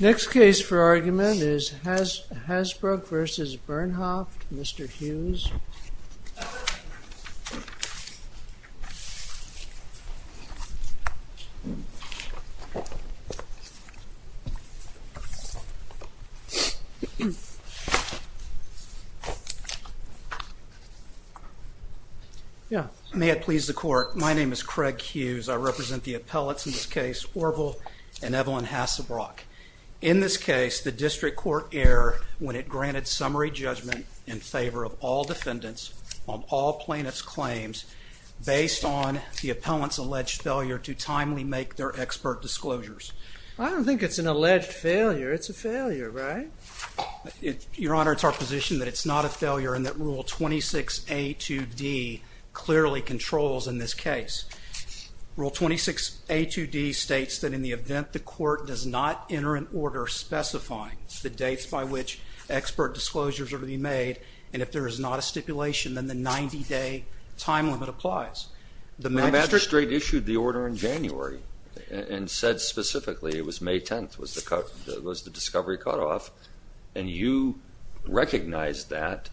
Next case for argument is Hasbrock v. Bernhoft, Mr. Hughes. May it please the court, my name is Craig Hughes. I represent the appellates in this case, Orvil and Evelyn Hassebrock. In this case the district court err when it granted summary judgment in favor of all defendants on all plaintiffs' claims based on the appellant's alleged failure to timely make their expert disclosures. I don't think it's an alleged failure. It's a failure, right? Your Honor, it's our position that it's not a failure and that Rule 26A2D clearly controls in this case. Rule 26A2D states that in the event the court does not enter an order specifying the dates by which expert disclosures are to be made and if there is not a stipulation then the 90-day time limit applies. The magistrate issued the order in January and said specifically it was May 10th was the discovery cutoff and you recognized that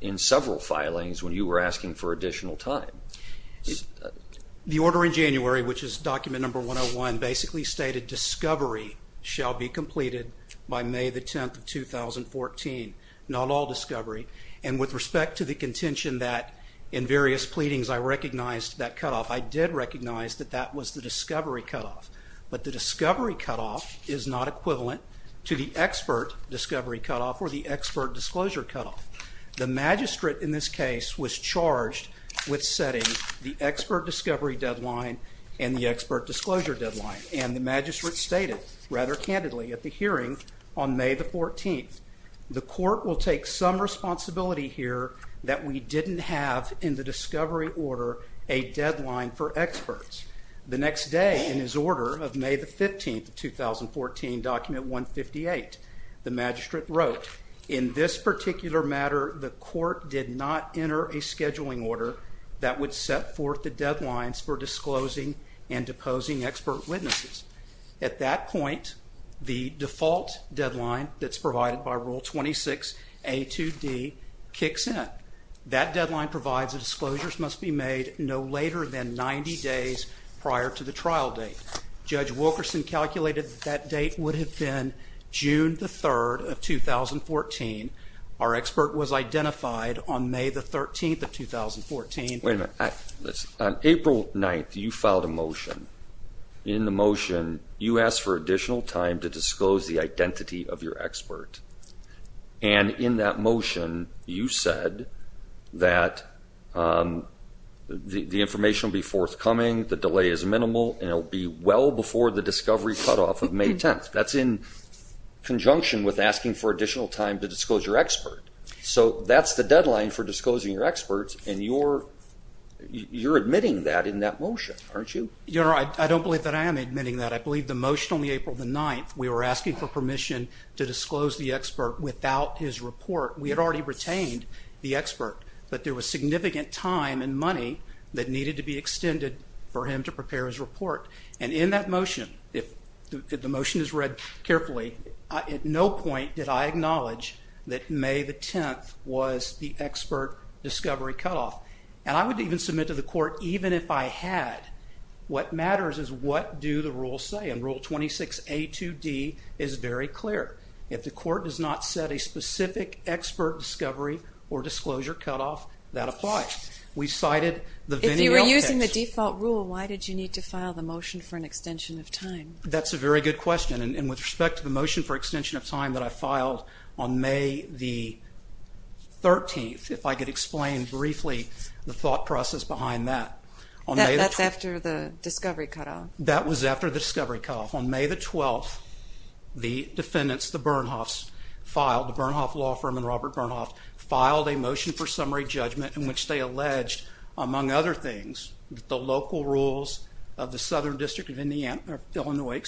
in several filings when you were asking for additional time. The order in January, which is document number 101, basically stated discovery shall be completed by May the 10th of 2014, not all discovery, and with respect to the contention that in various pleadings I recognized that cutoff, I did recognize that that was the discovery cutoff, but the discovery cutoff is not equivalent to the expert discovery cutoff or the expert disclosure cutoff. The magistrate in this case was charged with setting the expert discovery deadline and the expert disclosure deadline and the magistrate stated rather candidly at the hearing on May the 14th, the court will take some responsibility here that we didn't have in the discovery order a deadline for experts. The next day in his order of May the 15th of 2014, document 158, the magistrate wrote, in this particular matter the court did not enter a scheduling order that would set forth the deadlines for disclosing and deposing expert witnesses. At that point, the default deadline that's provided by Rule 26A2D kicks in. That deadline provides that disclosures must be made no later than 90 days prior to the trial date. Judge Wilkerson calculated that date would have been June the 3rd of 2014. Our expert was identified on May the 13th of 2014. Wait a minute. On April 9th, you filed a motion. In the motion, you asked for additional time to disclose the identity of your expert. And in that motion, you said that the information will be forthcoming, the delay is minimal, and it will be well before the discovery cutoff of May 10th. That's in conjunction with asking for additional time to disclose your expert. So that's the deadline for disclosing your expert, and you're admitting that in that motion, aren't you? Your Honor, I don't believe that I am admitting that. I believe the motion on April 9th, we were asking for permission to disclose the expert without his report. We had already retained the expert, but there was significant time and money that needed to be extended for him to prepare his report. And in that motion, if the motion is read carefully, at no point did I acknowledge that May the 10th was the expert discovery cutoff. And I would even submit to the court, even if I had, what matters is what do the rules say. And Rule 26A2D is very clear. If the court does not set a specific expert discovery or disclosure cutoff, that applies. We cited the Vennial case. If you were using the default rule, why did you need to file the motion for an extension of time? That's a very good question. And with respect to the motion for extension of time that I filed on May the 13th, if I could explain briefly the thought process behind that. That's after the discovery cutoff. That was after the discovery cutoff. On May the 12th, the defendants, the Bernhofs filed, the Bernhofs law firm and Robert Bernhofs, filed a motion for summary judgment in which they alleged, among other things, that the local rules of the Southern District of Illinois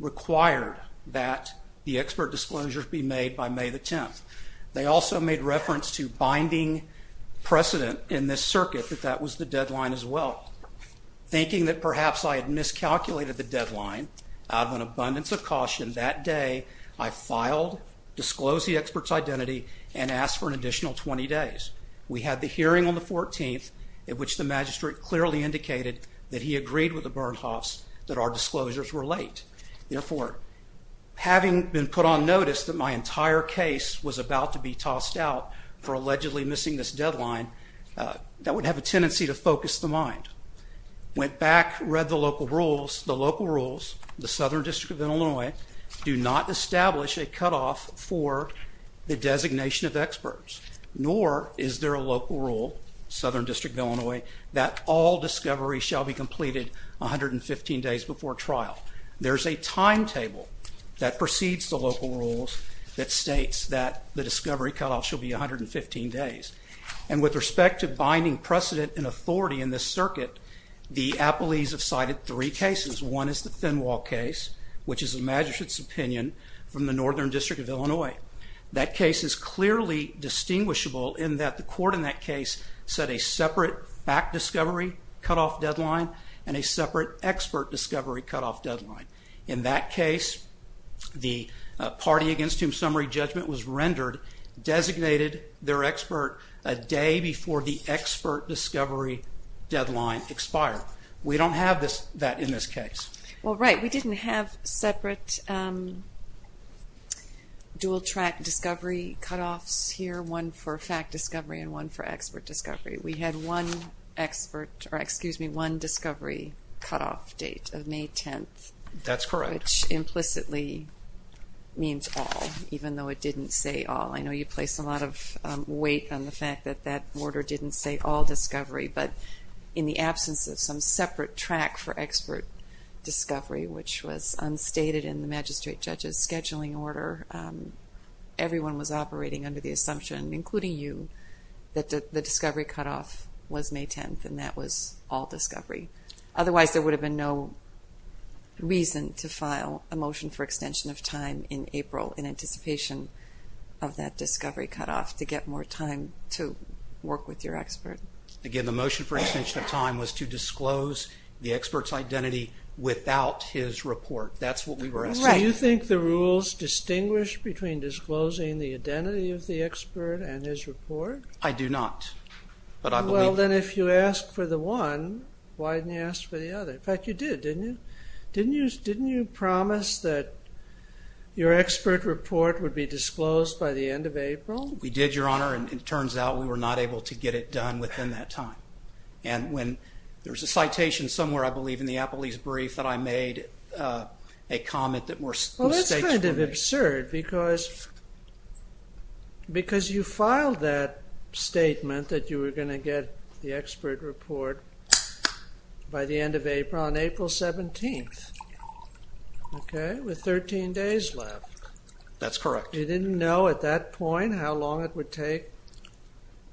required that the expert disclosures be made by May the 10th. They also made reference to binding precedent in this circuit that that was the deadline as well. Thinking that perhaps I had miscalculated the deadline, out of an abundance of caution, that day I filed, disclosed the expert's identity, and asked for an additional 20 days. We had the hearing on the 14th, in which the magistrate clearly indicated that he agreed with the Bernhofs that our disclosures were late. Therefore, having been put on notice that my entire case was about to be tossed out for allegedly missing this deadline, that would have a tendency to focus the mind. Went back, read the local rules. The local rules, the Southern District of Illinois, do not establish a cutoff for the designation of experts, nor is there a local rule, Southern District of Illinois, that all discoveries shall be completed 115 days before trial. There's a timetable that precedes the local rules that states that the discovery cutoff shall be 115 days. And with respect to binding precedent and authority in this circuit, the magistrate's opinion from the Northern District of Illinois, that case is clearly distinguishable in that the court in that case set a separate fact discovery cutoff deadline and a separate expert discovery cutoff deadline. In that case, the party against whom summary judgment was rendered designated their expert a day before the expert discovery deadline expired. We don't have that in this case. Well, right. We didn't have separate dual track discovery cutoffs here, one for fact discovery and one for expert discovery. We had one expert, or excuse me, one discovery cutoff date of May 10th. That's correct. Which implicitly means all, even though it didn't say all. I know you placed a lot of weight on the fact that that order didn't say all discovery, but in the absence of some separate track for expert discovery, which was unstated in the magistrate judge's scheduling order, everyone was operating under the assumption, including you, that the discovery cutoff was May 10th and that was all discovery. Otherwise, there would have been no reason to file a motion for extension of time in April in anticipation of that discovery cutoff to get more time to work with your expert. Again, the motion for extension of time was to disclose the expert's identity without his report. That's what we were asking. Do you think the rules distinguish between disclosing the identity of the expert and his report? I do not. Well, then if you ask for the one, why didn't you ask for the other? In fact, you did, didn't you? Didn't you promise that your expert report would be disclosed by the end of April? We did, Your Honor, and it turns out we were not able to get it done within that time. And when there's a citation somewhere, I believe in the Appley's brief, that I made a comment that was... Well, that's kind of absurd because you filed that statement that you were going to get the expert report by the end of April, on April 17th, okay, with 13 days left. That's correct. You didn't know at that point how long it would take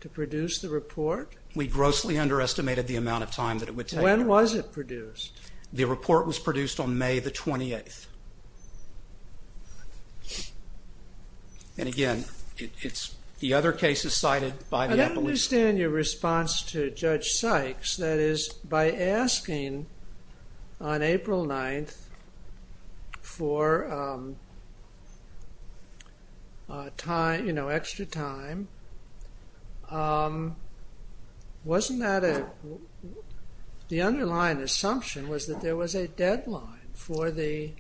to produce the report? We grossly underestimated the amount of time that it would take. When was it produced? The report was produced on May the 28th. And again, it's the other cases cited by the Appley's... That is, by asking on April 9th for time, you know, extra time, wasn't that a... The underlying assumption was that there was a deadline for the,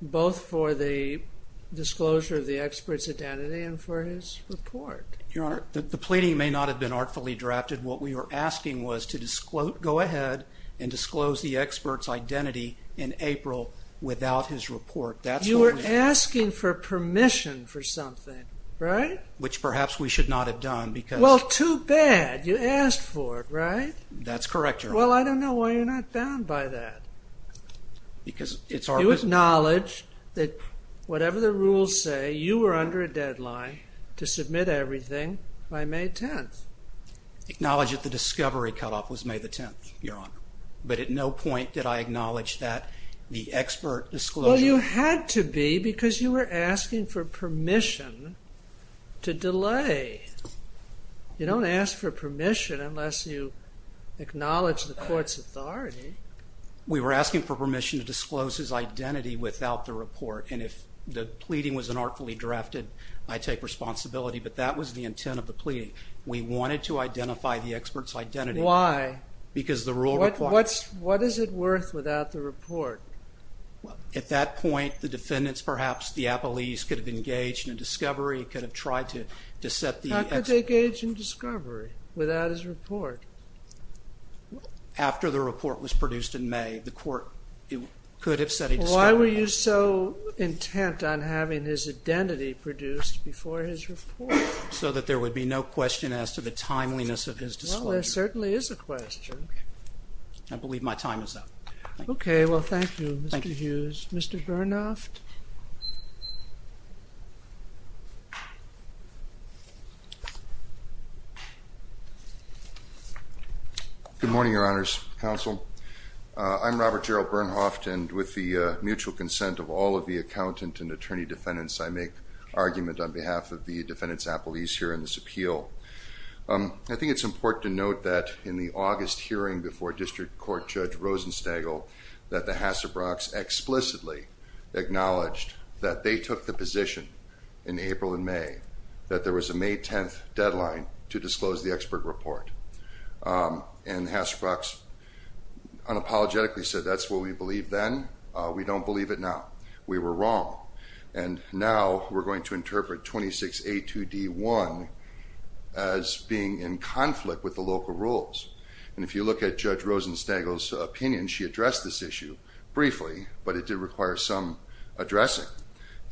both for the disclosure of the expert's identity and for his report. Your Honor, the pleading may not have been artfully drafted. What we were asking was to disclose, go ahead and disclose the expert's identity in April without his report. You were asking for permission for something, right? Which perhaps we should not have done because... Well, too bad. You asked for it, right? That's correct, Your Honor. Well, I don't know why you're not bound by that. Because it's our... Acknowledge that whatever the rules say, you were under a deadline to submit everything by May 10th. Acknowledge that the discovery cutoff was May the 10th, Your Honor. But at no point did I acknowledge that the expert disclosure... Well, you had to be because you were asking for permission to delay. You don't ask for permission unless you acknowledge the court's authority. We were asking for permission to disclose his identity without the report. And if the pleading was an artfully drafted, I take responsibility. But that was the intent of the pleading. We wanted to identify the expert's identity. Why? Because the rule requires... What is it worth without the report? At that point, the defendants, perhaps the appellees, could have engaged in a discovery, could have tried to set the... How could they engage in discovery without his report? After the report was produced in May, the court could have set a discovery. Why were you so intent on having his identity produced before his report? So that there would be no question as to the timeliness of his disclosure. Well, there certainly is a question. I believe my time is up. Okay. Well, thank you, Mr. Hughes. Mr. Bernhoft. Good morning, Your Honors, Counsel. I'm Robert Gerald Bernhoft, and with the mutual consent of all of the accountant and attorney defendants, I make argument on behalf of the defendants' appellees here in this appeal. I think it's important to note that in the August hearing before District Court Judge Rosenstegel, that the Hassebrocks explicitly acknowledged that they took the position in Hassebrocks unapologetically said, that's what we believed then. We don't believe it now. We were wrong. And now we're going to interpret 26A2D1 as being in conflict with the local rules. And if you look at Judge Rosenstegel's opinion, she addressed this issue briefly, but it did require some addressing.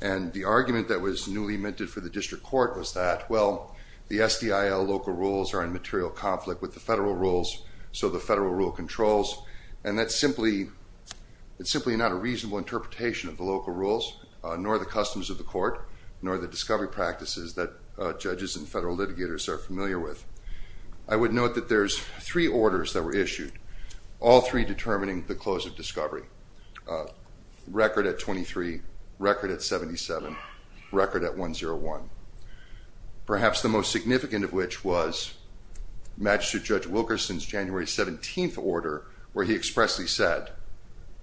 And the argument that was newly minted for the District Court was that, well, the SDIL local rules are in material conflict with the federal rules, so the federal rule controls. And that's simply not a reasonable interpretation of the local rules, nor the customs of the court, nor the discovery practices that judges and federal litigators are familiar with. I would note that there's three orders that were issued, all three determining the close of discovery. Record at 23, record at 77, record at 101. Perhaps the most significant of which was Magistrate Judge Wilkerson's January 17th order, where he expressly said,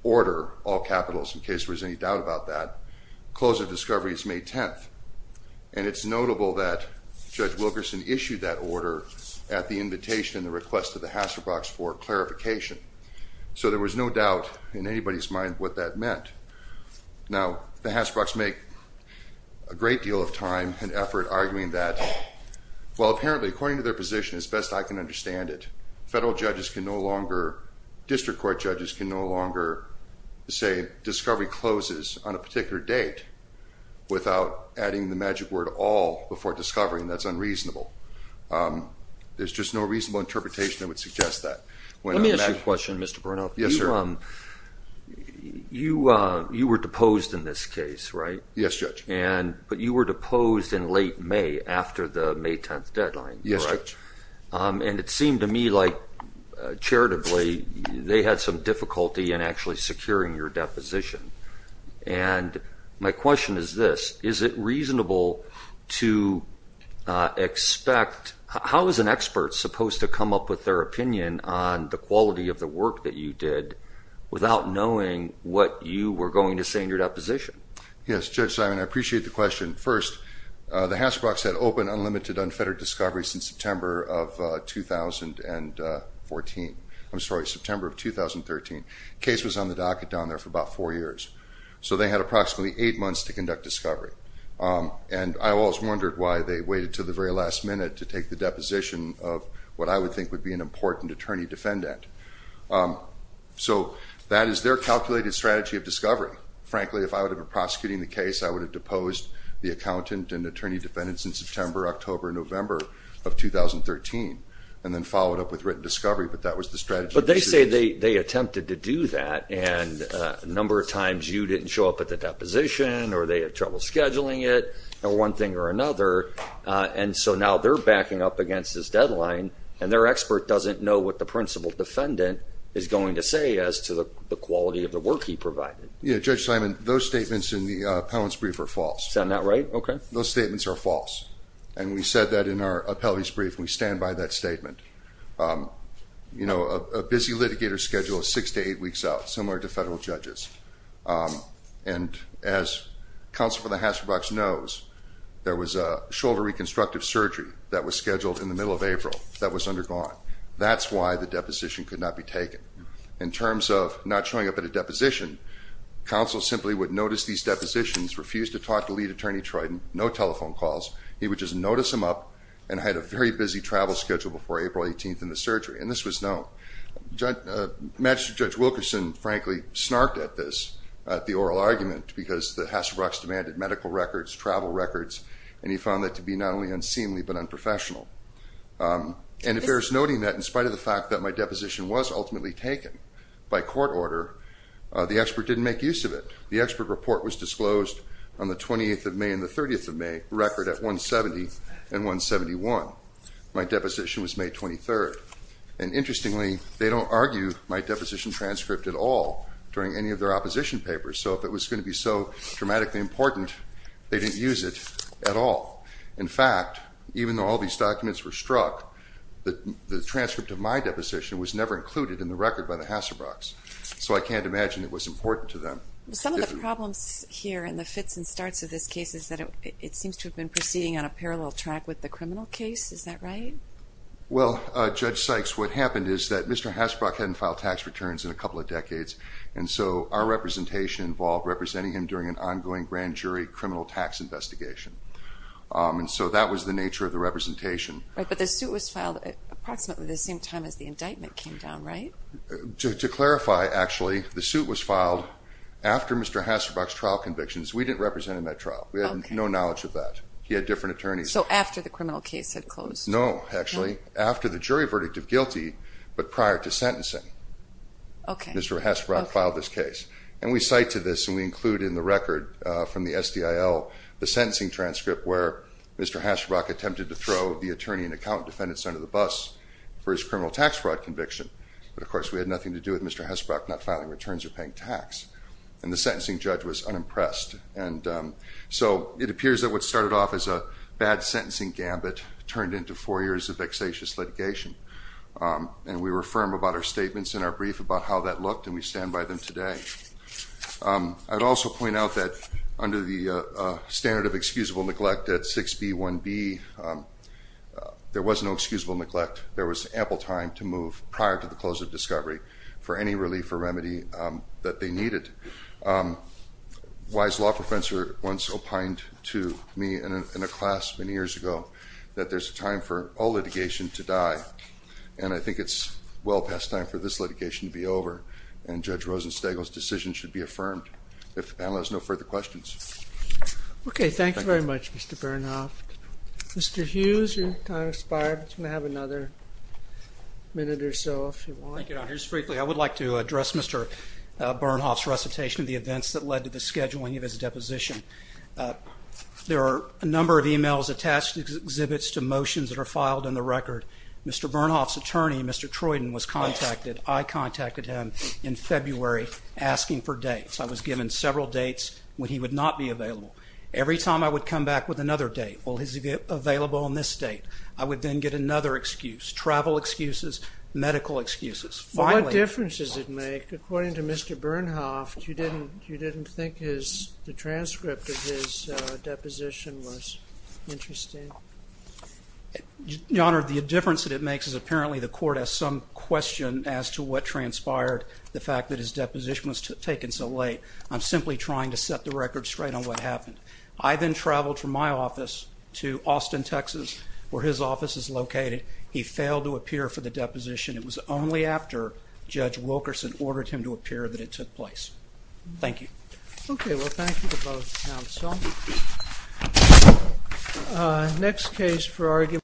order all capitals in case there was any doubt about that, close of discovery is May 10th. And it's notable that Judge Wilkerson issued that order at the invitation and the request of the Hassebrocks for clarification. So there was no doubt in anybody's mind what that meant. Now, the Hassebrocks make a great deal of time and effort arguing that, well, apparently, according to their position, as best I can understand it, federal judges can no longer, District Court judges can no longer say discovery closes on a particular date without adding the magic word all before discovering. That's unreasonable. There's just no reasonable interpretation that would suggest that. Let me ask you a question, Mr. Brunoff. Yes, sir. You were deposed in this case, right? Yes, Judge. But you were deposed in late May after the May 10th deadline, correct? Yes, Judge. And it seemed to me like, charitably, they had some difficulty in actually securing your deposition. And my question is this. Is it reasonable to expect, how is an expert supposed to come up with their opinion on the quality of the work that you did without knowing what you were going to say in your deposition? Yes, Judge Simon. I appreciate the question. First, the Hassebrocks had open, unlimited, unfettered discovery since September of 2014. I'm sorry, September of 2013. The case was on the docket down there for about four years. So they had approximately eight months to conduct discovery. And I always wondered why they waited to the very last minute to take the deposition of what I would think would be an important attorney-defendant. So that is their calculated strategy of discovery. Frankly, if I would have been prosecuting the case, I would have deposed the accountant and attorney-defendants in September, October, November of 2013, and then followed up with written discovery. But that was the strategy. But they say they attempted to do that, and a number of times you didn't show up at the deposition, or they had trouble scheduling it, or one thing or another. And so now they're backing up against this deadline, and their expert doesn't know what the principal defendant is going to say as to the quality of the work he provided. Yeah, Judge Simon, those statements in the appellant's brief are false. Is that not right? Okay. Those statements are false. And we said that in our appellant's brief, and we stand by that statement. You know, a busy litigator's schedule is six to eight weeks out, similar to federal judges. And as Counsel for the Hatshepsut knows, there was a shoulder reconstructive surgery that was scheduled in the middle of April that was undergone. That's why the deposition could not be taken. In terms of not showing up at a deposition, counsel simply would notice these depositions, refuse to talk to lead attorney Triton, no telephone calls. He would just notice them up, and had a very busy travel schedule before April 18th in the surgery. And this was known. Magistrate Judge Wilkerson, frankly, snarked at this, at the oral argument, because the Hassebrooks demanded medical records, travel records, and he found that to be not only unseemly but unprofessional. And if there's noting that, in spite of the fact that my deposition was ultimately taken by court order, the expert didn't make use of it. The expert report was disclosed on the 28th of May and the 30th of May record at 170 and 171. My deposition was May 23rd. And interestingly, they don't argue my deposition transcript at all during any of their opposition papers. So if it was going to be so dramatically important, they didn't use it at all. In fact, even though all these documents were struck, the transcript of my deposition was never included in the record by the Hassebrooks. So I can't imagine it was important to them. Some of the problems here in the fits and starts of this case is that it seems to have been proceeding on a parallel track with the criminal case. Is that right? Well, Judge Sykes, what happened is that Mr. Hassebrook hadn't filed tax returns in a couple of decades. And so our representation involved representing him during an ongoing grand jury criminal tax investigation. And so that was the nature of the representation. Right. But the suit was filed approximately the same time as the indictment came down, right? To clarify, actually, the suit was filed after Mr. Hassebrook's trial convictions. We didn't represent him at trial. He had different attorneys. So after the criminal case had closed? No, actually, after the jury verdict of guilty, but prior to sentencing, Mr. Hassebrook filed this case. And we cite to this, and we include in the record from the SDIL, the sentencing transcript where Mr. Hassebrook attempted to throw the attorney and accountant defendants under the bus for his criminal tax fraud conviction. But of course, we had nothing to do with Mr. Hassebrook not filing returns or paying tax. And the sentencing judge was unimpressed. And so it appears that what started off as a bad sentencing gambit turned into four years of vexatious litigation. And we were firm about our statements in our brief about how that looked, and we stand by them today. I'd also point out that under the standard of excusable neglect at 6B1B, there was no excusable neglect. There was ample time to move prior to the close of discovery for any relief or remedy that they needed. A wise law professor once opined to me in a class many years ago that there's a time for all litigation to die. And I think it's well past time for this litigation to be over, and Judge Rosenstegel's decision should be affirmed. If the panel has no further questions. Okay. Thank you very much, Mr. Bernhoft. Mr. Hughes, your time has expired, but you can have another minute or so if you want. Thank you, Your Honor. Just briefly, I would like to address Mr. Bernhoft's recitation of the events that led to the scheduling of his deposition. There are a number of emails attached to exhibits to motions that are filed in the record. Mr. Bernhoft's attorney, Mr. Troyden, was contacted, I contacted him in February, asking for dates. I was given several dates when he would not be available. Every time I would come back with another date, well, is he available on this date? I would then get another excuse, travel excuses, medical excuses. Finally... What difference does it make? According to Mr. Bernhoft, you didn't think his, the transcript of his deposition was interesting? Your Honor, the difference that it makes is apparently the court has some question as to what transpired, the fact that his deposition was taken so late. I'm simply trying to set the record straight on what happened. I then traveled from my office to Austin, Texas, where his office is located. He failed to appear for the deposition. It was only after Judge Wilkerson ordered him to appear that it took place. Thank you. Okay. Well, thank you to both counsel. Next case for argument...